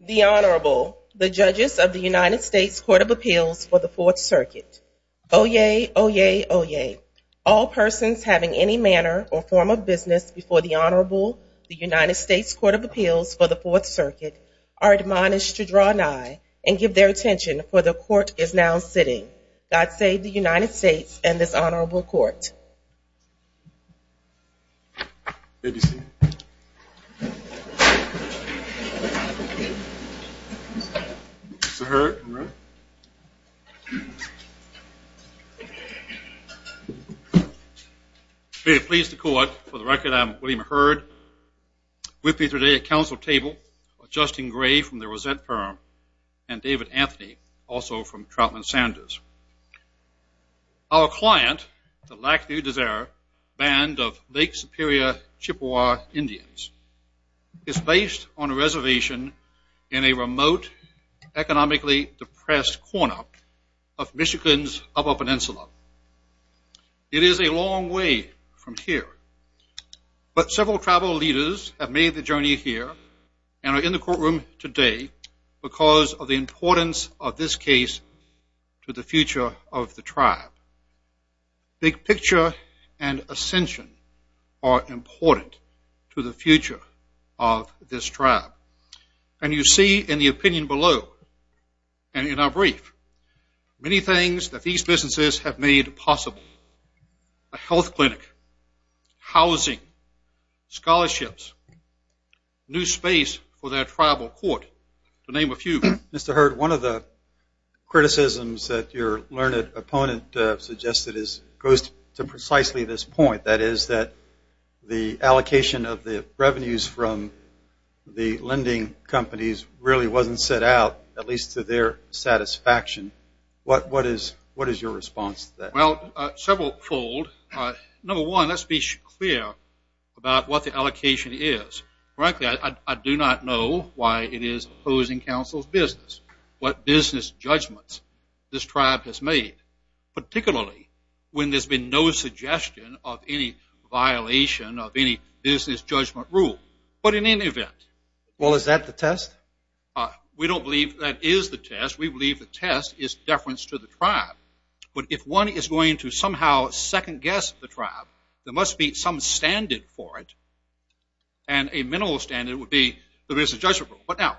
The Honorable, the Judges of the United States Court of Appeals for the Fourth Circuit. Oyez! Oyez! Oyez! All persons having any manner or form of business before the Honorable, the United States Court of Appeals for the Fourth Circuit, are admonished to draw nigh and give their attention, for the Court is now sitting. God save the United States and this Honorable Court. May it please the Court, for the record, I'm William Hurd. With me today at council table are Justin Gray from the Rosette Firm and David Anthony, also from Troutman Sanders. Our client, the Lac du Désir Band of Lake Superior Chippewa Indians, is based on a reservation in a remote, economically depressed corner of Michigan's Upper Peninsula. It is a long way from here, but several tribal leaders have made the journey here and are in the future of the tribe. Big Picture and Ascension are important to the future of this tribe. And you see in the opinion below and in our brief, many things that these businesses have made possible. A health clinic, housing, scholarships, new space for their tribal court, to name a few. Mr. Hurd, one of the criticisms that your learned opponent suggested goes to precisely this point, that is that the allocation of the revenues from the lending companies really wasn't set out, at least to their satisfaction. What is your response to that? Well, several fold. Number one, let's be clear about what the allocation is. Frankly, I do not know why it is opposing council's business, what business judgments this tribe has made, particularly when there's been no suggestion of any violation of any business judgment rule. But in any event... Well, is that the test? We don't believe that is the test. We believe the test is deference to the tribe. But if one is going to somehow second guess the tribe, there must be some standard for it. And a business judgment rule. But now,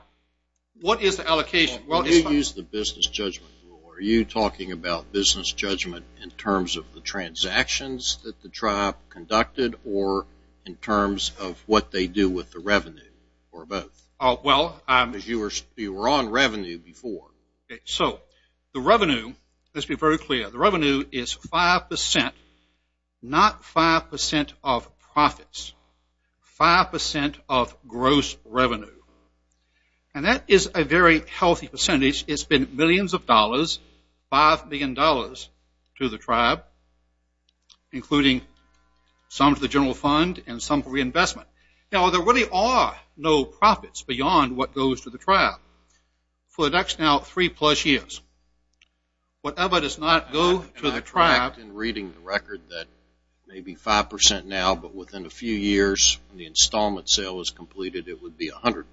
what is the allocation? When you use the business judgment rule, are you talking about business judgment in terms of the transactions that the tribe conducted or in terms of what they do with the revenue or both? Well... Because you were on revenue before. So, the revenue, let's be very clear, the revenue is 5%, not 5% of profits, 5% of gross revenue. And that is a very healthy percentage. It's been millions of dollars, $5 billion to the tribe, including some to the general fund and some for reinvestment. Now, there really are no profits beyond what goes to the tribe. For the next now three-plus years, whatever does not go to the tribe... And I correct in reading the record that maybe 5% now, but within a few years, when the installment sale is completed, it would be 100%.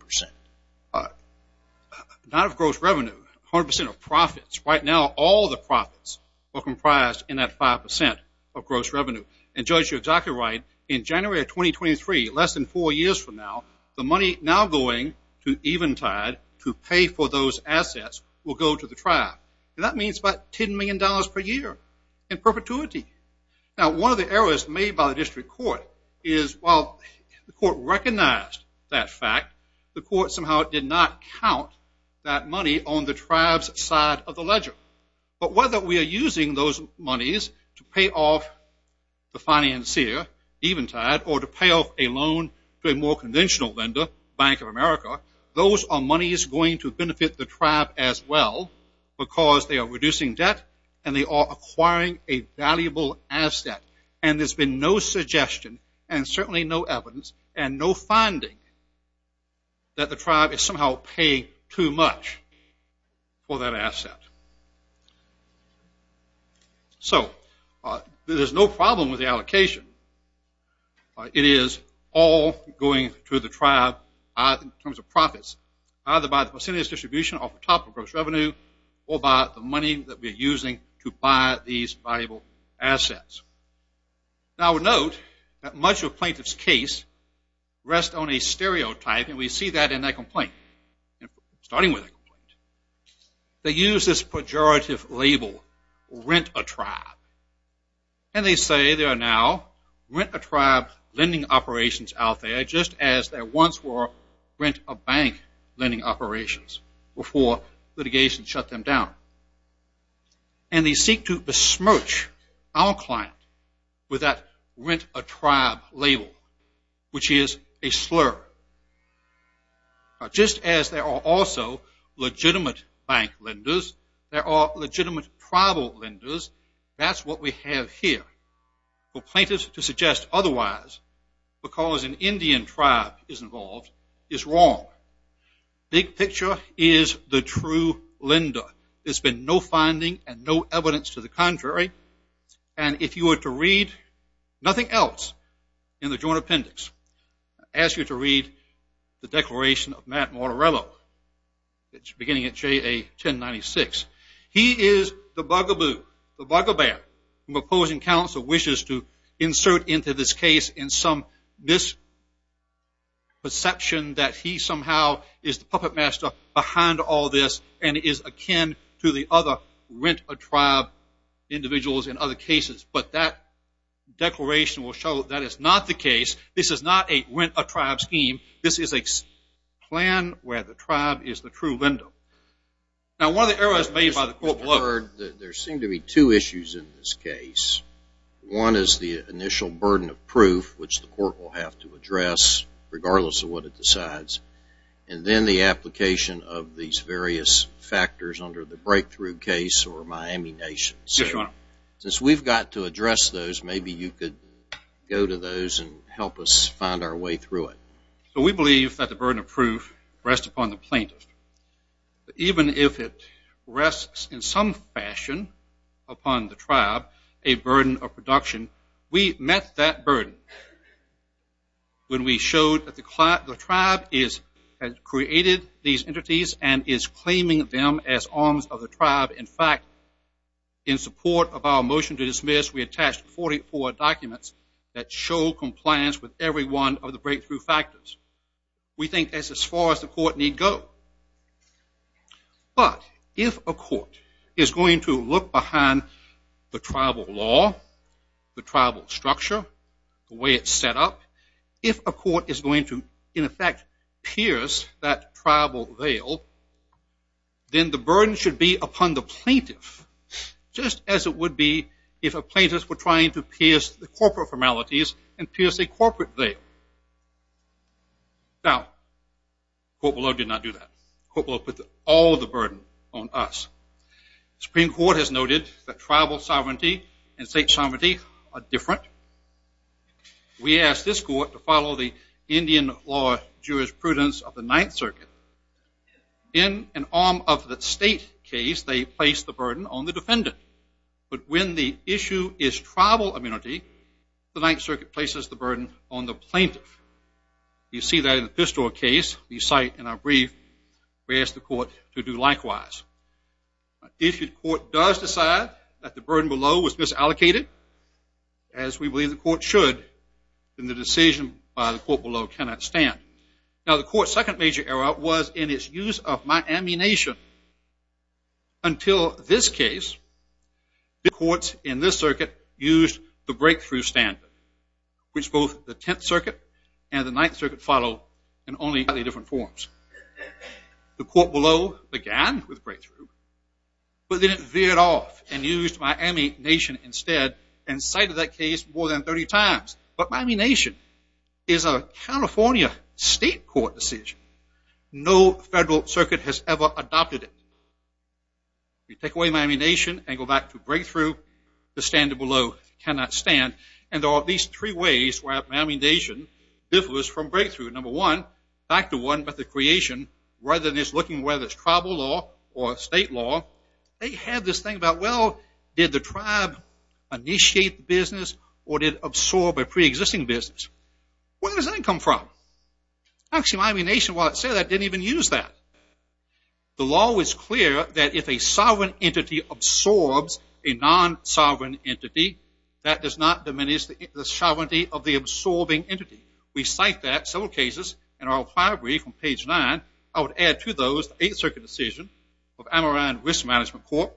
Not of gross revenue, 100% of profits. Right now, all the profits are comprised in that 5% of gross revenue. And Judge, you're exactly right. In January of 2023, less than four years from now, the money now going to Eventide to pay for those assets will go to the tribe. That means about $10 million per year in perpetuity. Now, one of the errors made by the district court is while the court recognized that fact, the court somehow did not count that money on the tribe's side of the ledger. But whether we are using those monies to pay off the financier, Eventide, or to pay off a loan to a more conventional lender, Bank of America, those are monies going to benefit the tribe as well because they are reducing debt, and they are acquiring a valuable asset. And there's been no suggestion, and certainly no evidence, and no finding that the tribe is somehow paying too much for that asset. So there's no problem with the allocation. It is all going to the tribe in terms of profits, either by the percentage distribution off the top of gross revenue or by the money that we are using to buy these valuable assets. Now, I would note that much of a plaintiff's case rests on a stereotype, and we see that in that complaint, starting with that complaint. They use this pejorative label, rent a tribe. And they say there are now rent a tribe lending operations out there, just as there once were rent a bank lending operations before litigation shut them down. And they seek to besmirch our client with that rent a tribe label, which is a slur. Just as there are also legitimate bank lenders, there are legitimate tribal lenders. That's what we have here. For plaintiffs to suggest otherwise, because an Indian tribe is involved, is wrong. Big picture is the true lender. There's been no finding and no evidence to the contrary. And if you were to read nothing else in the joint appendix, I ask you to read the Declaration of Matt Mortorello, beginning at JA 1096. He is the bugaboo, the bugabear, who opposing counsel wishes to insert into this case in some misperception that he somehow is the puppet master behind all this and is akin to the other rent a tribe individuals in other cases. But that declaration will show that is not the case. This is not a rent a tribe scheme. This is a plan where the tribe is the true lender. Now, one of the errors made by the court was that there seemed to be two issues in this case. One is the initial burden of proof, which the court will have to address regardless of what it decides. And then the application of these various factors under the breakthrough case or Miami Nation. Since we've got to address those, maybe you could go to those and help us find our way through it. So we believe that the burden of proof rests upon the plaintiff. Even if it rests in some fashion upon the tribe, a burden of production, we met that burden when we showed that the tribe has created these entities and is claiming them as arms of the tribe. In fact, in support of our motion to dismiss, we attached 44 documents that show compliance with every one of the breakthrough factors. We think that's as far as the court need go. But if a court is going to look behind the tribal law, the tribal structure, the way it's set up, if a court is going to, in effect, pierce that tribal veil, then the burden should be upon the plaintiff just as it would be if a plaintiff were trying to pierce the corporate formalities and pierce a corporate veil. Now, the court below did not do that. The court below put all the burden on us. Supreme Court has noted that tribal sovereignty and state sovereignty are different. We ask this court to follow the Indian law jurisprudence of the Ninth Circuit. In an arm of the state case, they place the burden on the defendant. But when the issue is tribal immunity, the Ninth Circuit places the burden on the plaintiff. You see that in the Pistor case, you cite in our brief, we ask the court to do likewise. If the court does decide that the burden below was misallocated, as we believe the court should, then the decision by the court below cannot stand. Now, the court's second major error was in its use of Miami Nation. Until this case, the courts in this circuit used the breakthrough standard, which both the Tenth Circuit and the Ninth Circuit follow in only highly different forms. The court below began with breakthrough, but then it veered off and used Miami Nation instead and cited that case more than 30 times. But Miami Nation is a California state court decision. No federal circuit has ever adopted it. You take away Miami Nation and go back to breakthrough, the standard below cannot stand. And there are at least three ways where Miami Nation differs from breakthrough. Number one, back to one, but the creation, whether it's looking whether it's tribal law or state law, they have this thing about, well, did the tribe initiate the business or did it absorb a preexisting business? Where does that come from? Actually, Miami Nation, while it said that, didn't even use that. The law was clear that if a sovereign entity absorbs a non-sovereign entity, that does not diminish the sovereignty of the absorbing entity. We cite that in several cases in our prior brief on page 9. I would add to those the Eighth Circuit decision of Amerind Risk Management Court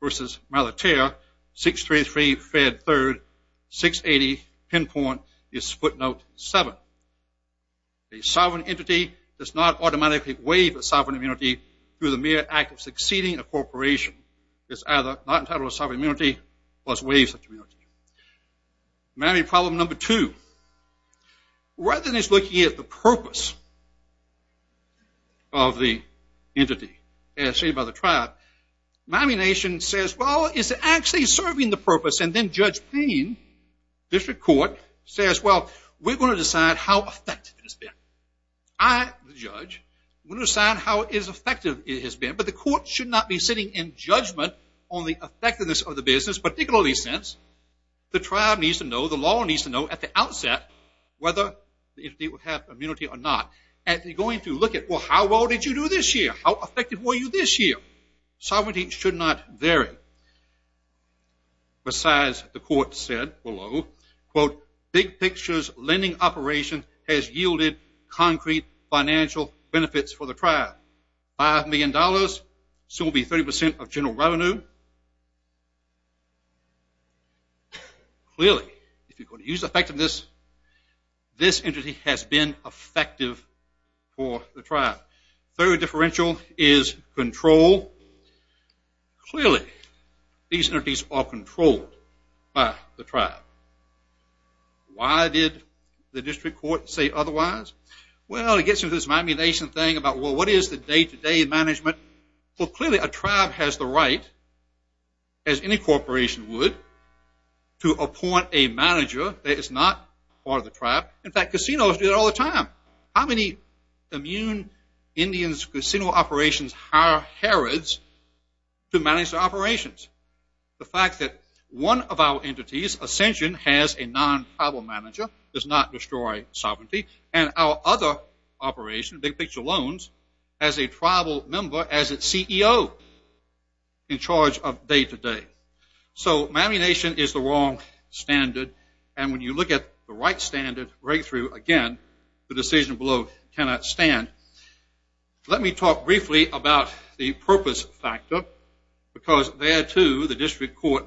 versus Malaterre 633 Fred 3rd 680, pinpoint is footnote 7. A sovereign entity does not automatically waive a sovereign immunity through the mere act of succeeding a corporation. It's either not entitled to a sovereign immunity or it's waived such immunity. Miami problem number two, rather than just looking at the purpose of the entity, as stated by the tribe, Miami Nation says, well, is it actually serving the purpose? And then Judge Payne, District Court, says, well, we're going to decide how effective it has been. I, the judge, will decide how effective it has been, but the court should not be sitting in judgment on the effectiveness of the business, particularly since the tribe needs to know, the law needs to know at the outset, whether the entity will have immunity or not. And they're going to look at, well, how well did you do this year? How effective were you this year? Sovereignty should not vary. Besides, the court said below, quote, big pictures lending operation has yielded concrete financial benefits for the tribe. $5 million, so it will be 30% of general revenue. Clearly, if you're going to use effectiveness, this entity has been effective for the tribe. Third differential is control. Clearly, these entities are controlled by the tribe. Why did the District Court say otherwise? Well, it gets into this manipulation thing about, well, what is the day-to-day management? Well, clearly, a tribe has the right, as any corporation would, to appoint a manager that is not part of the tribe. In fact, casinos do that all the time. How many immune Indian casino operations hire herods to manage their operations? The fact that one of our entities, Ascension, has a non-tribal manager, does not destroy sovereignty, and our other operation, Big Picture Loans, has a tribal member as its CEO in charge of day-to-day. So manipulation is the wrong standard, and when you look at the right standard right through, again, the decision below cannot stand. Let me talk briefly about the purpose factor, because there, too, the District Court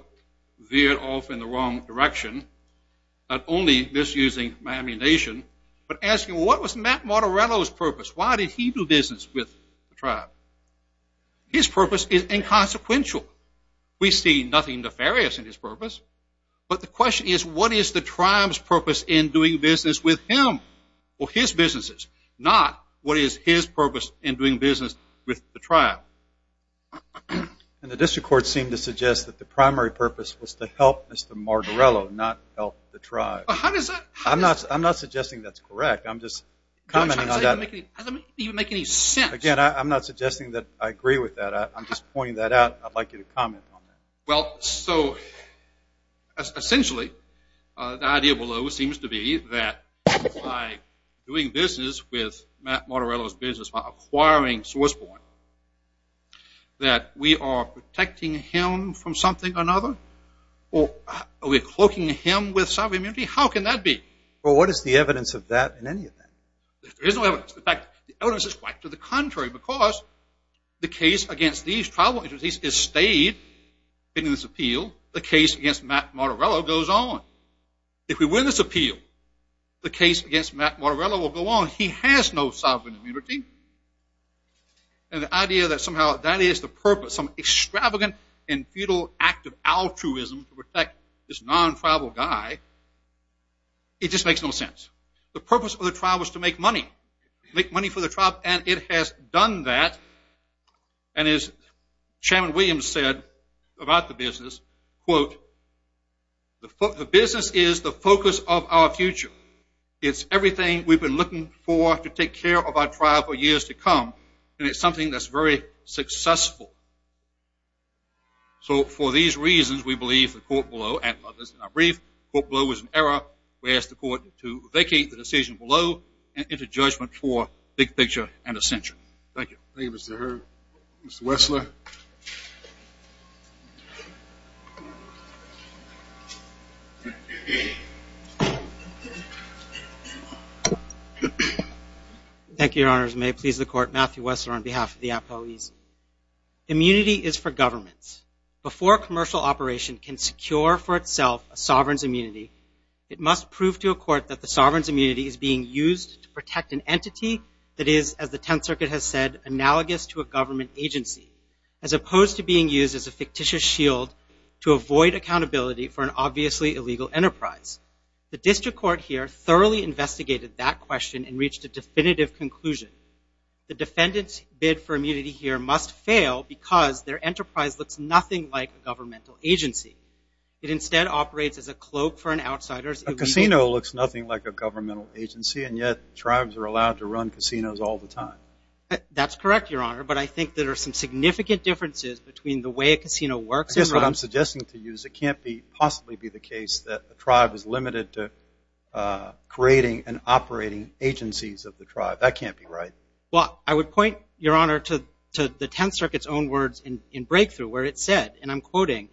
veered off in the wrong direction. Not only misusing manipulation, but asking, well, what was Matt Martorello's purpose? Why did he do business with the tribe? His purpose is inconsequential. We see nothing nefarious in his purpose, but the question is what is the tribe's purpose in doing business with him or his businesses, and the District Court seemed to suggest that the primary purpose was to help Mr. Martorello, not help the tribe. I'm not suggesting that's correct. I'm just commenting on that. Again, I'm not suggesting that I agree with that. I'm just pointing that out. I'd like you to comment on that. Well, so essentially, the idea below seems to be that by doing business with Matt Martorello's business, by acquiring Swissborn, that we are protecting him from something or another, or are we cloaking him with sovereign immunity? How can that be? Well, what is the evidence of that in any of that? There is no evidence. In fact, the evidence is quite to the contrary, because the case against these tribal entities has stayed in this appeal. The case against Matt Martorello goes on. If we win this appeal, the case against Matt Martorello will go on. He has no sovereign immunity. And the idea that somehow that is the purpose, some extravagant and futile act of altruism to protect this non-tribal guy, it just makes no sense. The purpose of the trial was to make money, make money for the tribe, and it has done that. And as Chairman Williams said about the business, quote, the business is the focus of our future. It's everything we've been looking for to take care of our tribe for years to come, and it's something that's very successful. So for these reasons, we believe the court below and others in our brief, the court below is in error. We ask the court to vacate the decision below and enter judgment for big picture and a century. Thank you. Thank you, Mr. Hearn. Mr. Wessler. Thank you, Your Honors. May it please the court, Matthew Wessler on behalf of the Apoese. Immunity is for governments. Before a commercial operation can secure for itself a sovereign's immunity, it must prove to a court that the sovereign's immunity is being used to protect an entity that is, as the Tenth Circuit has said, analogous to a government agency, as opposed to being used as a fictitious shield to avoid accountability for an obviously illegal enterprise. The district court here thoroughly investigated that question and reached a definitive conclusion. The defendant's bid for immunity here must fail because their enterprise looks nothing like a governmental agency. It instead operates as a cloak for an outsider's illegal. A casino looks nothing like a governmental agency, and yet tribes are allowed to run casinos all the time. That's correct, Your Honor. But I think there are some significant differences between the way a casino works and runs. I guess what I'm suggesting to you is it can't possibly be the case that a tribe is limited to creating and operating agencies of the tribe. That can't be right. Well, I would point, Your Honor, to the Tenth Circuit's own words in Breakthrough where it said, and I'm quoting,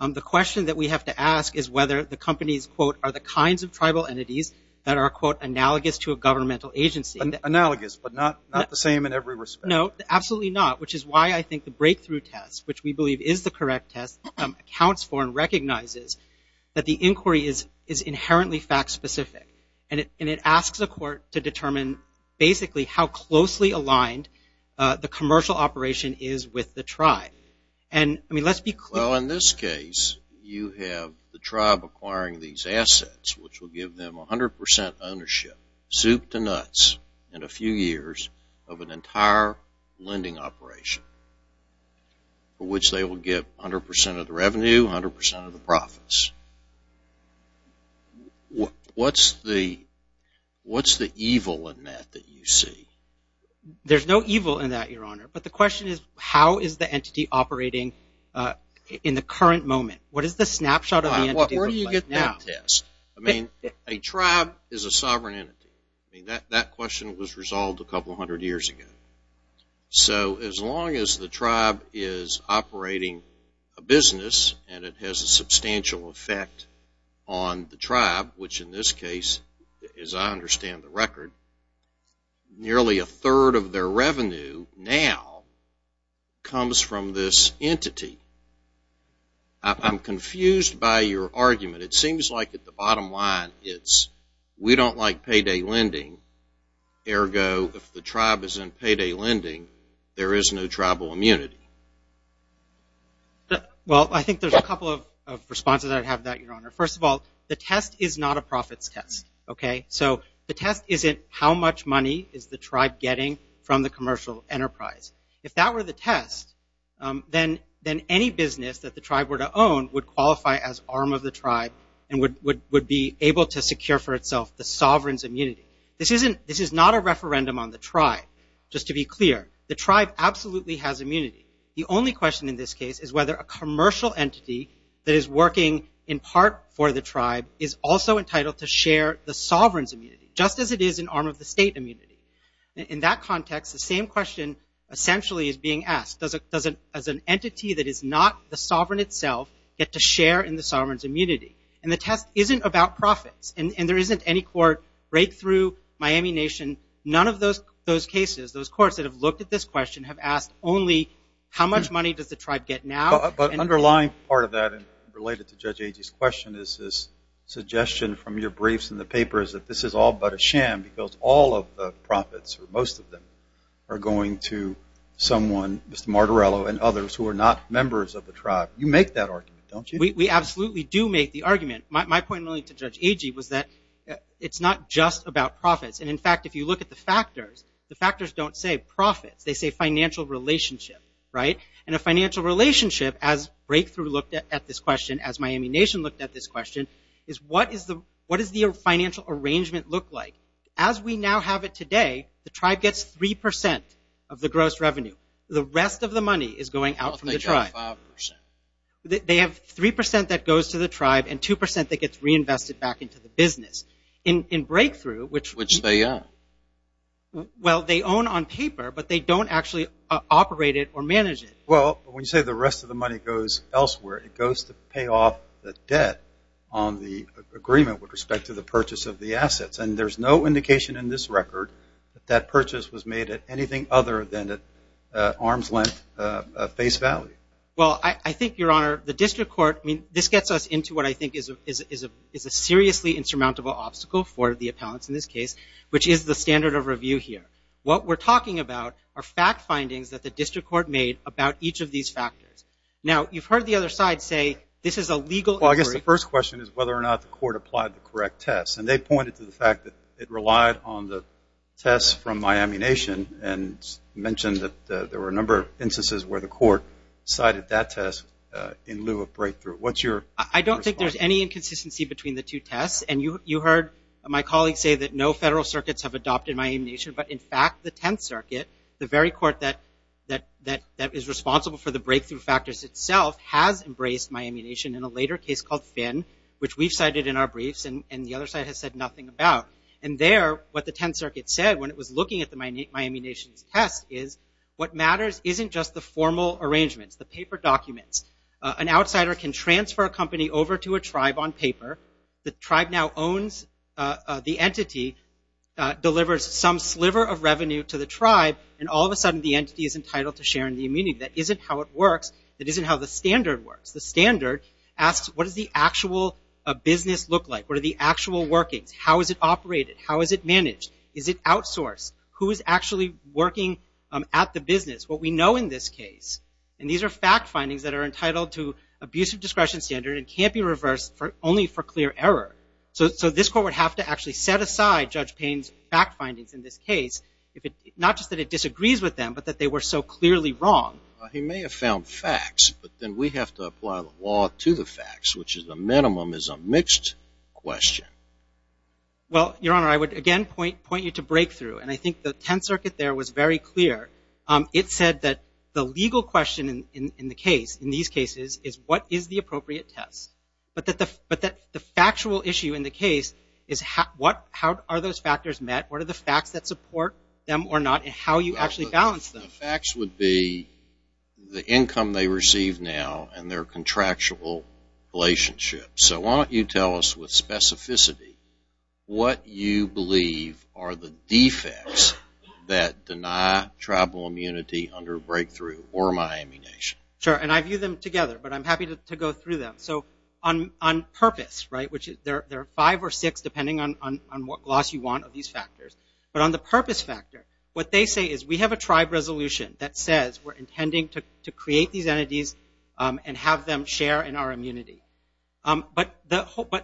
the question that we have to ask is whether the companies, quote, are the kinds of tribal entities that are, quote, analogous to a governmental agency. Analogous, but not the same in every respect. No, absolutely not, which is why I think the Breakthrough test, which we believe is the correct test, accounts for and recognizes that the inquiry is inherently fact-specific, and it asks the court to determine basically how closely aligned the commercial operation is with the tribe. And, I mean, let's be clear. Well, in this case, you have the tribe acquiring these assets, which will give them 100 percent ownership, soup to nuts in a few years of an entire lending operation for which they will get 100 percent of the revenue, 100 percent of the profits. What's the evil in that that you see? There's no evil in that, Your Honor, but the question is how is the entity operating in the current moment? What is the snapshot of the entity? Where do you get that test? I mean, a tribe is a sovereign entity. I mean, that question was resolved a couple hundred years ago. So as long as the tribe is operating a business and it has a substantial effect on the tribe, which in this case, as I understand the record, nearly a third of their revenue now comes from this entity. I'm confused by your argument. It seems like at the bottom line it's we don't like payday lending. Ergo, if the tribe is in payday lending, there is no tribal immunity. Well, I think there's a couple of responses I'd have to that, Your Honor. First of all, the test is not a profits test, okay? So the test isn't how much money is the tribe getting from the commercial enterprise. If that were the test, then any business that the tribe were to own would qualify as arm of the tribe and would be able to secure for itself the sovereign's immunity. This is not a referendum on the tribe. Just to be clear, the tribe absolutely has immunity. The only question in this case is whether a commercial entity that is working in part for the tribe is also entitled to share the sovereign's immunity, just as it is an arm of the state immunity. In that context, the same question essentially is being asked. Does an entity that is not the sovereign itself get to share in the sovereign's immunity? And the test isn't about profits. And there isn't any court breakthrough, Miami Nation, none of those cases, those courts that have looked at this question have asked only how much money does the tribe get now. But an underlying part of that, related to Judge Agee's question, is this suggestion from your briefs and the papers that this is all but a sham because all of the profits, or most of them, are going to someone, Mr. Martorello and others, who are not members of the tribe. You make that argument, don't you? We absolutely do make the argument. My point only to Judge Agee was that it's not just about profits. And, in fact, if you look at the factors, the factors don't say profits. They say financial relationship, right? And a financial relationship, as Breakthrough looked at this question, as Miami Nation looked at this question, is what does the financial arrangement look like? As we now have it today, the tribe gets 3% of the gross revenue. The rest of the money is going out from the tribe. They have 3% that goes to the tribe and 2% that gets reinvested back into the business. In Breakthrough, which they own on paper, but they don't actually operate it or manage it. Well, when you say the rest of the money goes elsewhere, it goes to pay off the debt on the agreement with respect to the purchase of the assets. And there's no indication in this record that that purchase was made at anything other than at arm's length face value. Well, I think, Your Honor, the district court, I mean, this gets us into what I think is a seriously insurmountable obstacle for the appellants in this case, which is the standard of review here. What we're talking about are fact findings that the district court made about each of these factors. Now, you've heard the other side say this is a legal inquiry. Well, I guess the first question is whether or not the court applied the correct tests. And they pointed to the fact that it relied on the tests from Miami Nation and mentioned that there were a number of instances where the court cited that test in lieu of Breakthrough. What's your response? I don't think there's any inconsistency between the two tests. And you heard my colleague say that no federal circuits have adopted Miami Nation, but in fact the Tenth Circuit, the very court that is responsible for the breakthrough factors itself, has embraced Miami Nation in a later case called Finn, which we've cited in our briefs, and the other side has said nothing about. And there, what the Tenth Circuit said when it was looking at the Miami Nation's test is what matters isn't just the formal arrangements, the paper documents. An outsider can transfer a company over to a tribe on paper. The tribe now owns the entity, delivers some sliver of revenue to the tribe, and all of a sudden the entity is entitled to share in the immunity. That isn't how it works. That isn't how the standard works. The standard asks what does the actual business look like? What are the actual workings? How is it operated? How is it managed? Is it outsourced? Who is actually working at the business? What we know in this case, and these are fact findings that are entitled to abusive discretion standard and can't be reversed only for clear error. So this court would have to actually set aside Judge Payne's fact findings in this case, not just that it disagrees with them, but that they were so clearly wrong. He may have found facts, but then we have to apply the law to the facts, which is the minimum is a mixed question. Well, Your Honor, I would again point you to breakthrough, and I think the Tenth Circuit there was very clear. It said that the legal question in the case, in these cases, is what is the appropriate test? But the factual issue in the case is how are those factors met? What are the facts that support them or not, and how do you actually balance them? The facts would be the income they receive now and their contractual relationship. So why don't you tell us with specificity what you believe are the defects that deny tribal immunity under breakthrough or Miami Nation? Sure, and I view them together, but I'm happy to go through them. So on purpose, right, which there are five or six depending on what gloss you want of these factors, but on the purpose factor, what they say is we have a tribe resolution that says we're intending to create these entities and have them share in our immunity. But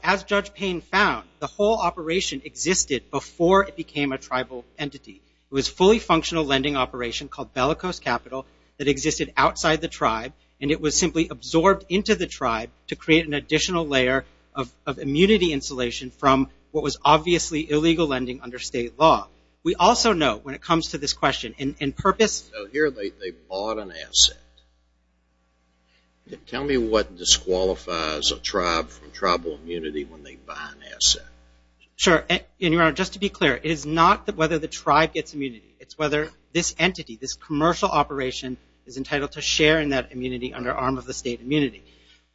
as Judge Payne found, the whole operation existed before it became a tribal entity. It was a fully functional lending operation called Bellicose Capital that existed outside the tribe, and it was simply absorbed into the tribe to create an additional layer of immunity insulation from what was obviously illegal lending under state law. We also know when it comes to this question, in purpose... So here they bought an asset. Tell me what disqualifies a tribe from tribal immunity when they buy an asset. Sure, and, Your Honor, just to be clear, it is not whether the tribe gets immunity. It's whether this entity, this commercial operation, is entitled to share in that immunity under arm of the state immunity.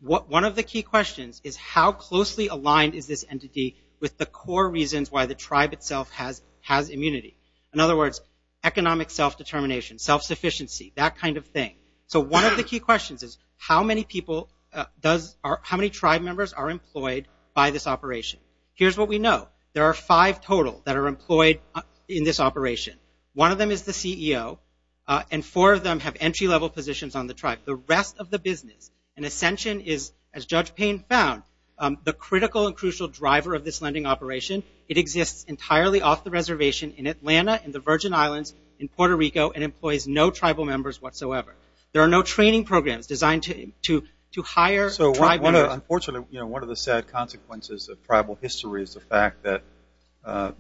One of the key questions is how closely aligned is this entity with the core reasons why the tribe itself has immunity? In other words, economic self-determination, self-sufficiency, that kind of thing. So one of the key questions is how many tribe members are employed by this operation? Here's what we know. There are five total that are employed in this operation. One of them is the CEO, and four of them have entry-level positions on the tribe. The rest of the business, and Ascension is, as Judge Payne found, the critical and crucial driver of this lending operation. It exists entirely off the reservation in Atlanta, in the Virgin Islands, in Puerto Rico, and employs no tribal members whatsoever. There are no training programs designed to hire tribe members. Unfortunately, one of the sad consequences of tribal history is the fact that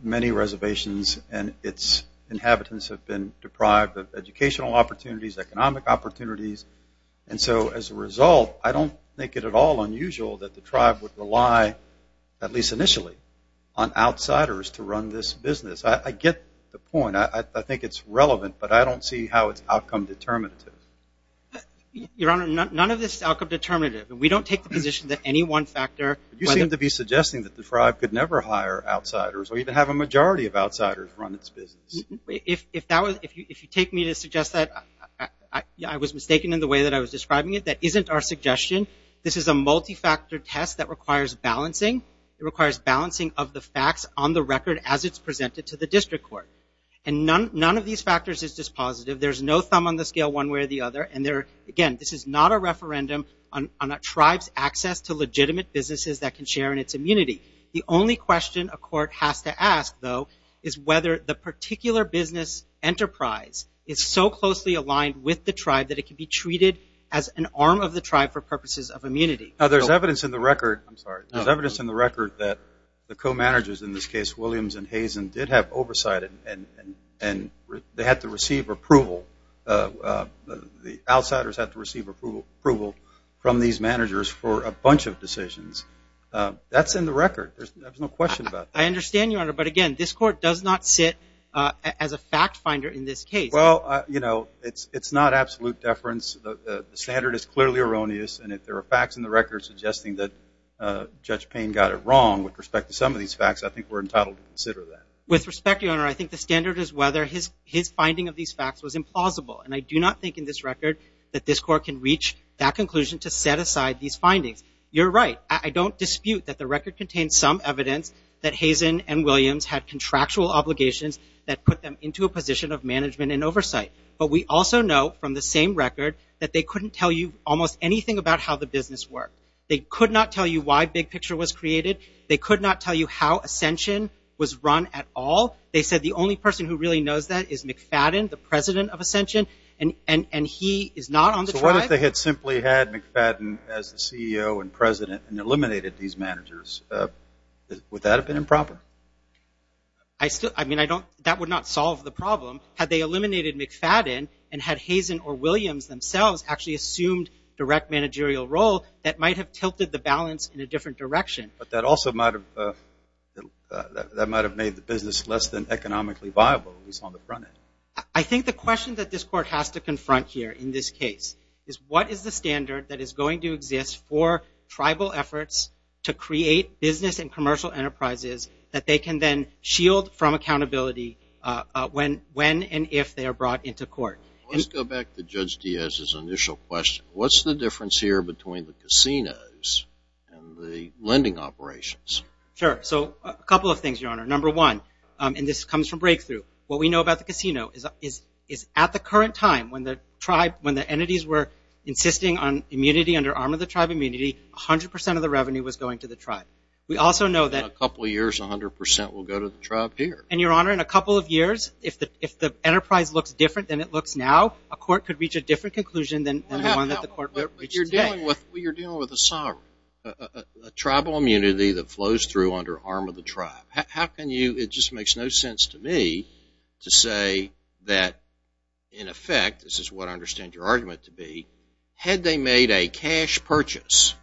many reservations and its inhabitants have been deprived of educational opportunities, economic opportunities. And so as a result, I don't think it at all unusual that the tribe would rely, at least initially, on outsiders to run this business. I get the point. I think it's relevant, but I don't see how it's outcome determinative. Your Honor, none of this is outcome determinative. We don't take the position that any one factor. You seem to be suggesting that the tribe could never hire outsiders or even have a majority of outsiders run its business. If you take me to suggest that, I was mistaken in the way that I was describing it. That isn't our suggestion. This is a multi-factor test that requires balancing. It requires balancing of the facts on the record as it's presented to the district court. And none of these factors is dispositive. There's no thumb on the scale one way or the other. And again, this is not a referendum on a tribe's access to legitimate businesses that can share in its immunity. The only question a court has to ask, though, is whether the particular business enterprise is so closely aligned with the tribe that it can be treated as an arm of the tribe for purposes of immunity. There's evidence in the record that the co-managers, in this case, Williams and Hazen, did have oversight, and they had to receive approval. The outsiders had to receive approval from these managers for a bunch of decisions. That's in the record. There's no question about that. I understand, Your Honor, but again, this court does not sit as a fact finder in this case. Well, you know, it's not absolute deference. The standard is clearly erroneous. And if there are facts in the record suggesting that Judge Payne got it wrong with respect to some of these facts, I think we're entitled to consider that. With respect, Your Honor, I think the standard is whether his finding of these facts was implausible. And I do not think in this record that this court can reach that conclusion to set aside these findings. You're right. I don't dispute that the record contains some evidence that Hazen and Williams had contractual obligations that put them into a position of management and oversight. But we also know from the same record that they couldn't tell you almost anything about how the business worked. They could not tell you why Big Picture was created. They could not tell you how Ascension was run at all. They said the only person who really knows that is McFadden, the president of Ascension, and he is not on the tribe. If they had simply had McFadden as the CEO and president and eliminated these managers, would that have been improper? That would not solve the problem. Had they eliminated McFadden and had Hazen or Williams themselves actually assumed direct managerial role, that might have tilted the balance in a different direction. But that also might have made the business less than economically viable, at least on the front end. I think the question that this court has to confront here in this case is what is the standard that is going to exist for tribal efforts to create business and commercial enterprises that they can then shield from accountability when and if they are brought into court. Let's go back to Judge Diaz's initial question. What's the difference here between the casinos and the lending operations? Sure. So a couple of things, Your Honor. Number one, and this comes from breakthrough, what we know about the casino is at the current time when the entities were insisting on immunity under Arm of the Tribe immunity, 100% of the revenue was going to the tribe. In a couple of years, 100% will go to the tribe here. And, Your Honor, in a couple of years, if the enterprise looks different than it looks now, a court could reach a different conclusion than the one that the court reached today. You're dealing with a sovereign, a tribal immunity that flows through under Arm of the Tribe. How can you, it just makes no sense to me to say that, in effect, this is what I understand your argument to be, had they made a cash purchase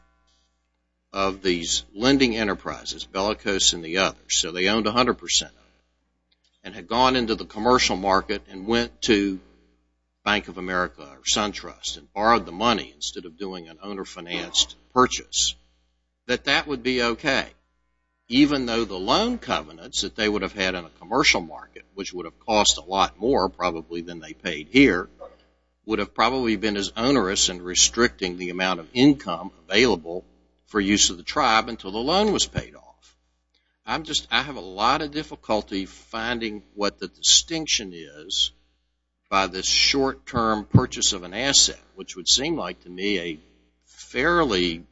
of these lending enterprises, Bellicose and the others, so they owned 100% of it, and had gone into the commercial market and went to Bank of America or SunTrust and borrowed the money instead of doing an owner-financed purchase, that that would be okay. Even though the loan covenants that they would have had in a commercial market, which would have cost a lot more probably than they paid here, would have probably been as onerous in restricting the amount of income available for use of the tribe until the loan was paid off. I'm just, I have a lot of difficulty finding what the distinction is by this short-term purchase of an asset, which would seem like to me a fairly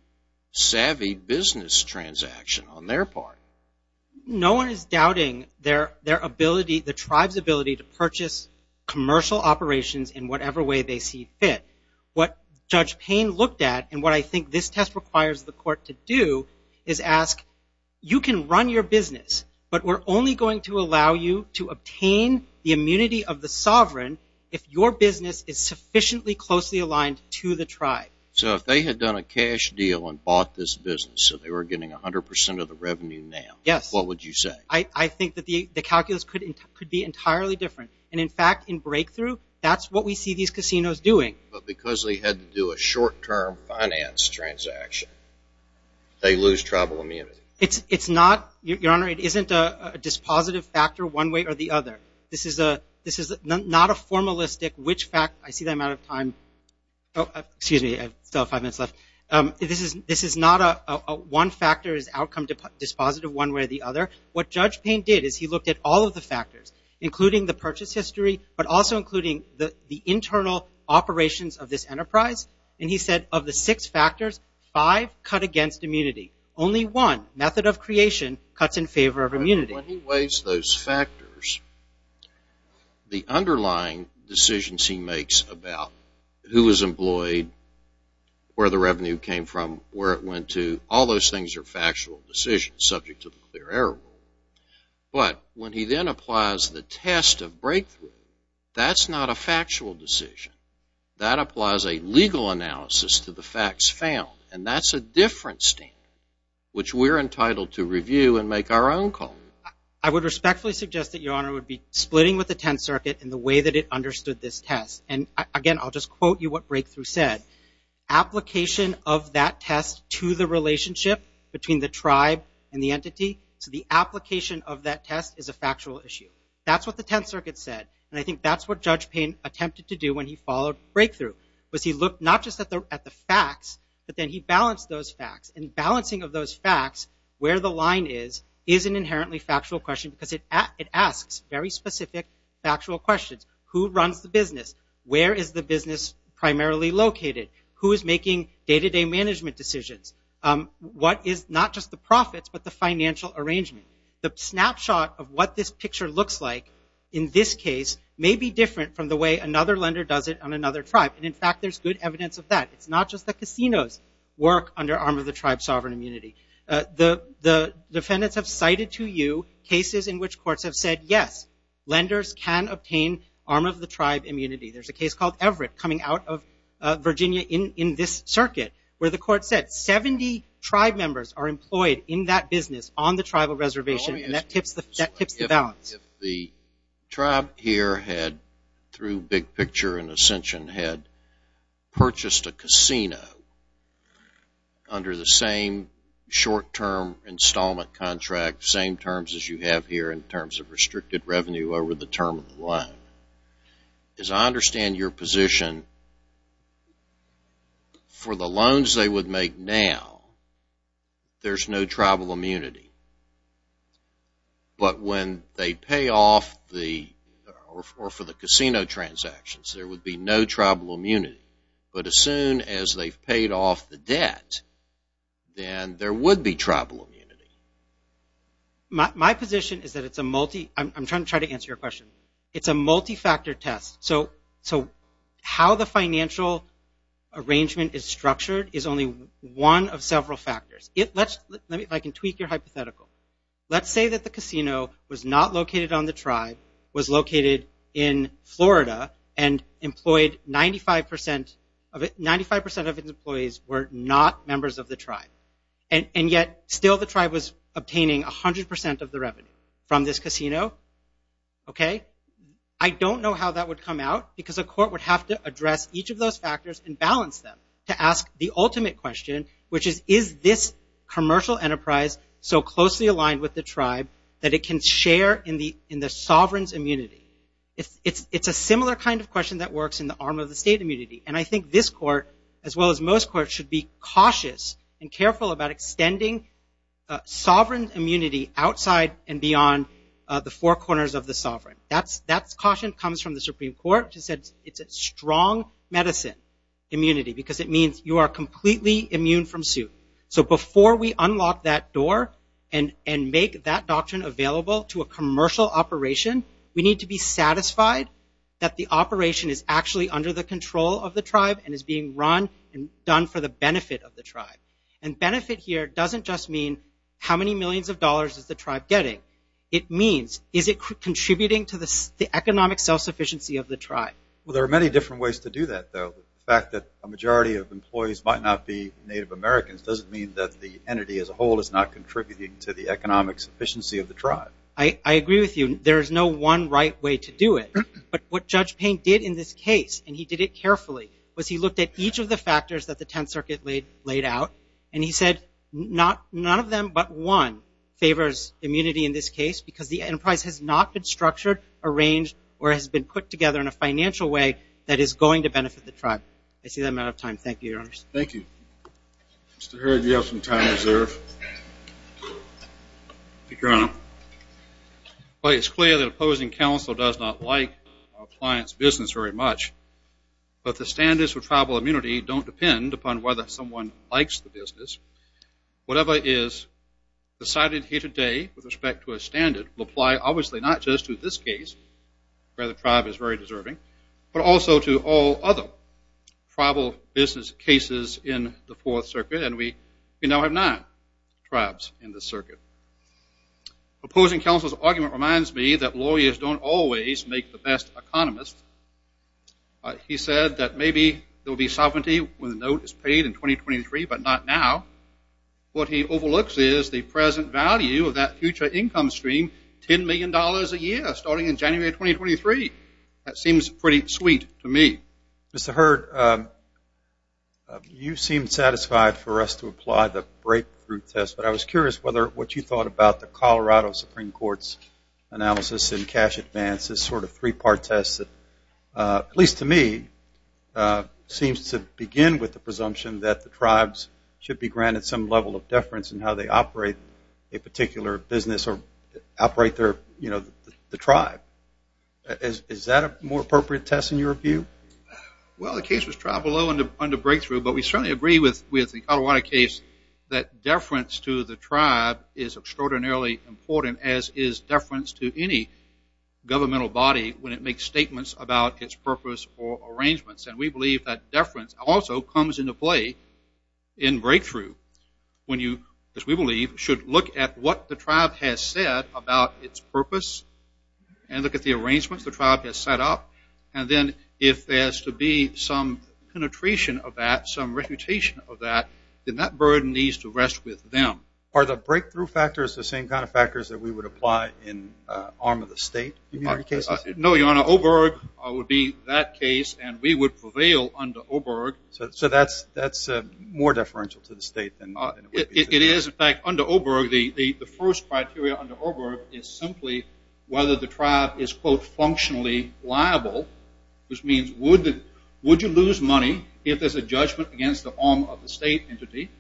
savvy business transaction on their part. No one is doubting their ability, the tribe's ability to purchase commercial operations in whatever way they see fit. What Judge Payne looked at and what I think this test requires the court to do is ask, you can run your business, but we're only going to allow you to obtain the immunity of the sovereign if your business is sufficiently closely aligned to the tribe. So if they had done a cash deal and bought this business so they were getting 100% of the revenue now, what would you say? Yes. I think that the calculus could be entirely different. And in fact, in breakthrough, that's what we see these casinos doing. But because they had to do a short-term finance transaction, they lose tribal immunity. It's not, Your Honor, it isn't a dispositive factor one way or the other. This is not a formalistic which fact, I see that I'm out of time. Excuse me, I still have five minutes left. This is not a one factor is outcome dispositive one way or the other. What Judge Payne did is he looked at all of the factors, including the purchase history, but also including the internal operations of this enterprise, and he said of the six factors, five cut against immunity. Only one, method of creation, cuts in favor of immunity. When he weighs those factors, the underlying decisions he makes about who was employed, where the revenue came from, where it went to, all those things are factual decisions subject to the clear error rule. But when he then applies the test of breakthrough, that's not a factual decision. That applies a legal analysis to the facts found, and that's a different standard which we're entitled to review and make our own call. I would respectfully suggest that, Your Honor, it would be splitting with the Tenth Circuit in the way that it understood this test. And, again, I'll just quote you what breakthrough said. Application of that test to the relationship between the tribe and the entity, so the application of that test is a factual issue. That's what the Tenth Circuit said, and I think that's what Judge Payne attempted to do when he followed breakthrough, was he looked not just at the facts, but then he balanced those facts. And balancing of those facts, where the line is, is an inherently factual question because it asks very specific factual questions. Who runs the business? Where is the business primarily located? Who is making day-to-day management decisions? What is not just the profits, but the financial arrangement? The snapshot of what this picture looks like in this case may be different from the way another lender does it on another tribe. And, in fact, there's good evidence of that. It's not just the casinos work under Arm of the Tribe sovereign immunity. The defendants have cited to you cases in which courts have said, yes, lenders can obtain Arm of the Tribe immunity. There's a case called Everett coming out of Virginia in this circuit where the court said 70 tribe members are employed in that business on the tribal reservation, and that tips the balance. If the tribe here had, through Big Picture and Ascension, had purchased a casino under the same short-term installment contract, same terms as you have here in terms of restricted revenue over the term of the loan, as I understand your position, for the loans they would make now, there's no tribal immunity. But when they pay off the, or for the casino transactions, there would be no tribal immunity. But as soon as they've paid off the debt, then there would be tribal immunity. My position is that it's a multi, I'm trying to try to answer your question. It's a multi-factor test. So how the financial arrangement is structured is only one of several factors. Let me, if I can tweak your hypothetical. Let's say that the casino was not located on the tribe, was located in Florida, and employed 95% of its employees were not members of the tribe, and yet still the tribe was obtaining 100% of the revenue from this casino. Okay? I don't know how that would come out because a court would have to address each of those factors and balance them to ask the ultimate question, which is, is this commercial enterprise so closely aligned with the tribe that it can share in the sovereign's immunity? It's a similar kind of question that works in the arm of the state immunity. And I think this court, as well as most courts, should be cautious and careful about extending sovereign immunity outside and beyond the four corners of the sovereign. That caution comes from the Supreme Court, which has said it's a strong medicine immunity because it means you are completely immune from suit. So before we unlock that door and make that doctrine available to a commercial operation, we need to be satisfied that the operation is actually under the control of the tribe and is being run and done for the benefit of the tribe. And benefit here doesn't just mean how many millions of dollars is the tribe getting. It means is it contributing to the economic self-sufficiency of the tribe? Well, there are many different ways to do that, though. The fact that a majority of employees might not be Native Americans doesn't mean that the entity as a whole is not contributing to the economic sufficiency of the tribe. I agree with you. There is no one right way to do it. But what Judge Payne did in this case, and he did it carefully, was he looked at each of the factors that the Tenth Circuit laid out, and he said none of them but one favors immunity in this case because the enterprise has not been structured, arranged, or has been put together in a financial way that is going to benefit the tribe. I see I'm out of time. Thank you, Your Honors. Thank you. Mr. Heard, do you have some time to observe? Thank you, Your Honor. It's clear that opposing counsel does not like appliance business very much, but the standards for tribal immunity don't depend upon whether someone likes the business. Whatever is decided here today with respect to a standard will apply obviously not just to this case, where the tribe is very deserving, but also to all other tribal business cases in the Fourth Circuit, Opposing counsel's argument reminds me that lawyers don't always make the best economists. He said that maybe there will be sovereignty when the note is paid in 2023, but not now. What he overlooks is the present value of that future income stream, $10 million a year, starting in January 2023. That seems pretty sweet to me. Mr. Heard, you seem satisfied for us to apply the breakthrough test, but I was curious what you thought about the Colorado Supreme Court's analysis in cash advance, this sort of three-part test that, at least to me, seems to begin with the presumption that the tribes should be granted some level of deference in how they operate a particular business or operate the tribe. Is that a more appropriate test in your view? Well, the case was trial below under breakthrough, but we certainly agree with the Colorado case that deference to the tribe is extraordinarily important, as is deference to any governmental body when it makes statements about its purpose or arrangements, and we believe that deference also comes into play in breakthrough. When you, as we believe, should look at what the tribe has said about its purpose and look at the arrangements the tribe has set up, and then if there's to be some penetration of that, some reputation of that, then that burden needs to rest with them. Are the breakthrough factors the same kind of factors that we would apply in arm of the state cases? No, Your Honor. Oberg would be that case, and we would prevail under Oberg. So that's more deferential to the state than it would be to the tribe? It is. In fact, under Oberg, the first criteria under Oberg is simply whether the tribe is, quote, functionally liable, which means would you lose money if there's a judgment against the arm of the state entity?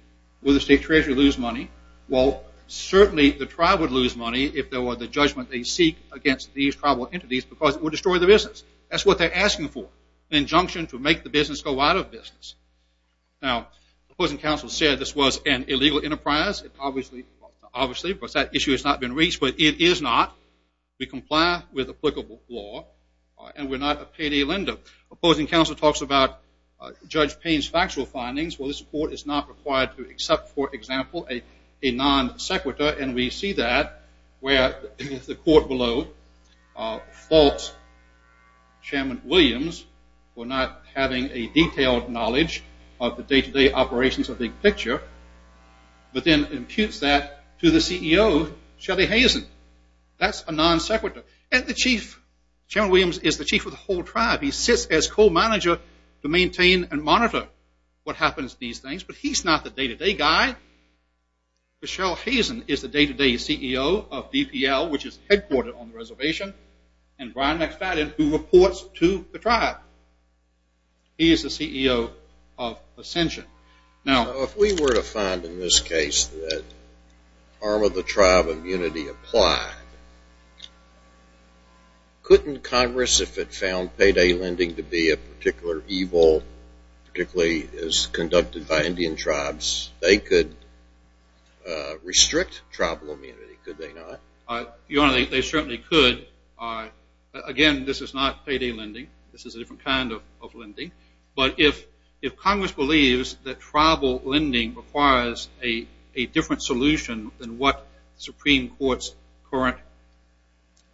Would the state treasury lose money? Well, certainly the tribe would lose money if there were the judgment they seek against these tribal entities because it would destroy the business. That's what they're asking for, an injunction to make the business go out of business. Now, opposing counsel said this was an illegal enterprise. Obviously, that issue has not been reached, but it is not. We comply with applicable law, and we're not a payday lender. Opposing counsel talks about Judge Payne's factual findings. Well, this court is not required to accept, for example, a non sequitur, and we see that where the court below faults Chairman Williams for not having a detailed knowledge of the day-to-day operations of the big picture, but then imputes that to the CEO, Shelly Hazen. That's a non sequitur. And the chief, Chairman Williams, is the chief of the whole tribe. He sits as co-manager to maintain and monitor what happens to these things, but he's not the day-to-day guy. Michelle Hazen is the day-to-day CEO of DPL, which is headquartered on the reservation, and Brian McFadden, who reports to the tribe. He is the CEO of Ascension. Now, if we were to find in this case that harm of the tribe immunity applied, couldn't Congress, if it found payday lending to be a particular evil, particularly as conducted by Indian tribes, they could restrict tribal immunity, could they not? Your Honor, they certainly could. Again, this is not payday lending. This is a different kind of lending. But if Congress believes that tribal lending requires a different solution than what the Supreme Court's current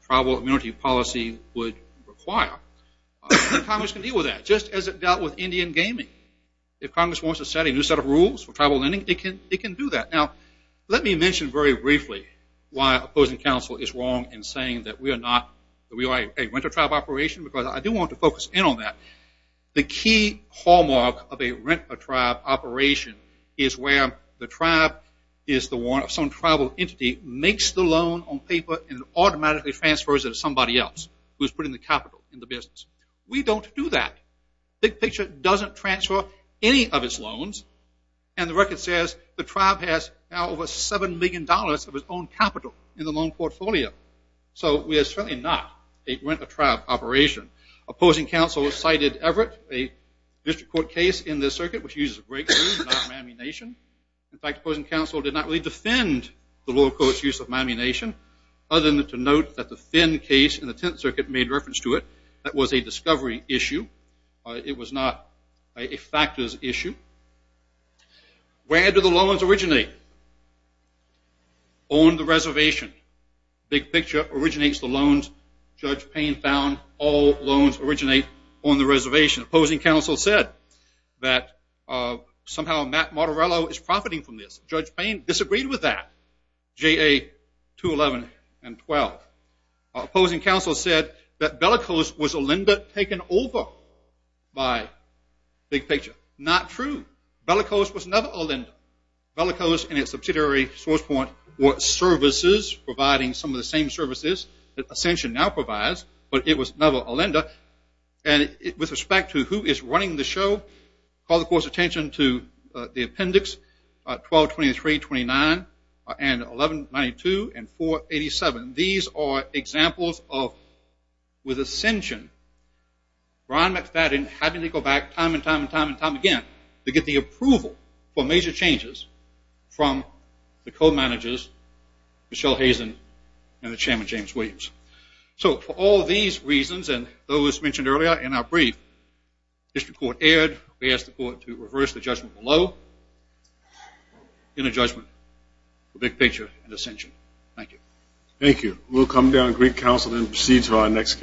tribal immunity policy would require, Congress can deal with that, just as it dealt with Indian gaming. If Congress wants to set a new set of rules for tribal lending, it can do that. Now, let me mention very briefly why opposing counsel is wrong in saying that we are not, that we are a renter tribe operation, because I do want to focus in on that. The key hallmark of a renter tribe operation is where the tribe is the one, some tribal entity makes the loan on paper and it automatically transfers it to somebody else who is putting the capital in the business. We don't do that. Big Picture doesn't transfer any of its loans. And the record says the tribe has now over $7 million of its own capital in the loan portfolio. So we are certainly not a renter tribe operation. Opposing counsel cited Everett, a district court case in this circuit, which uses a break-through, not Miami Nation. In fact, opposing counsel did not really defend the lower court's use of Miami Nation. Other than to note that the Finn case in the Tenth Circuit made reference to it. That was a discovery issue. It was not a factors issue. Where do the loans originate? On the reservation. Big Picture originates the loans Judge Payne found. All loans originate on the reservation. Opposing counsel said that somehow Matt Martorello is profiting from this. Judge Payne disagreed with that. J.A. 211 and 12. Opposing counsel said that Bellicose was a lender taken over by Big Picture. Not true. Bellicose was never a lender. Bellicose and its subsidiary, SourcePoint, were services providing some of the same services that Ascension now provides. But it was never a lender. And with respect to who is running the show, call the court's attention to the appendix 122329 and 1192 and 487. These are examples of, with Ascension, Ron McFadden having to go back time and time and time again to get the approval for major changes from the co-managers, Michelle Hazen and the chairman, James Williams. So for all these reasons and those mentioned earlier in our brief, the district court erred. We ask the court to reverse the judgment below in a judgment for Big Picture and Ascension. Thank you. Thank you. We'll come down and greet counsel and proceed to our next case.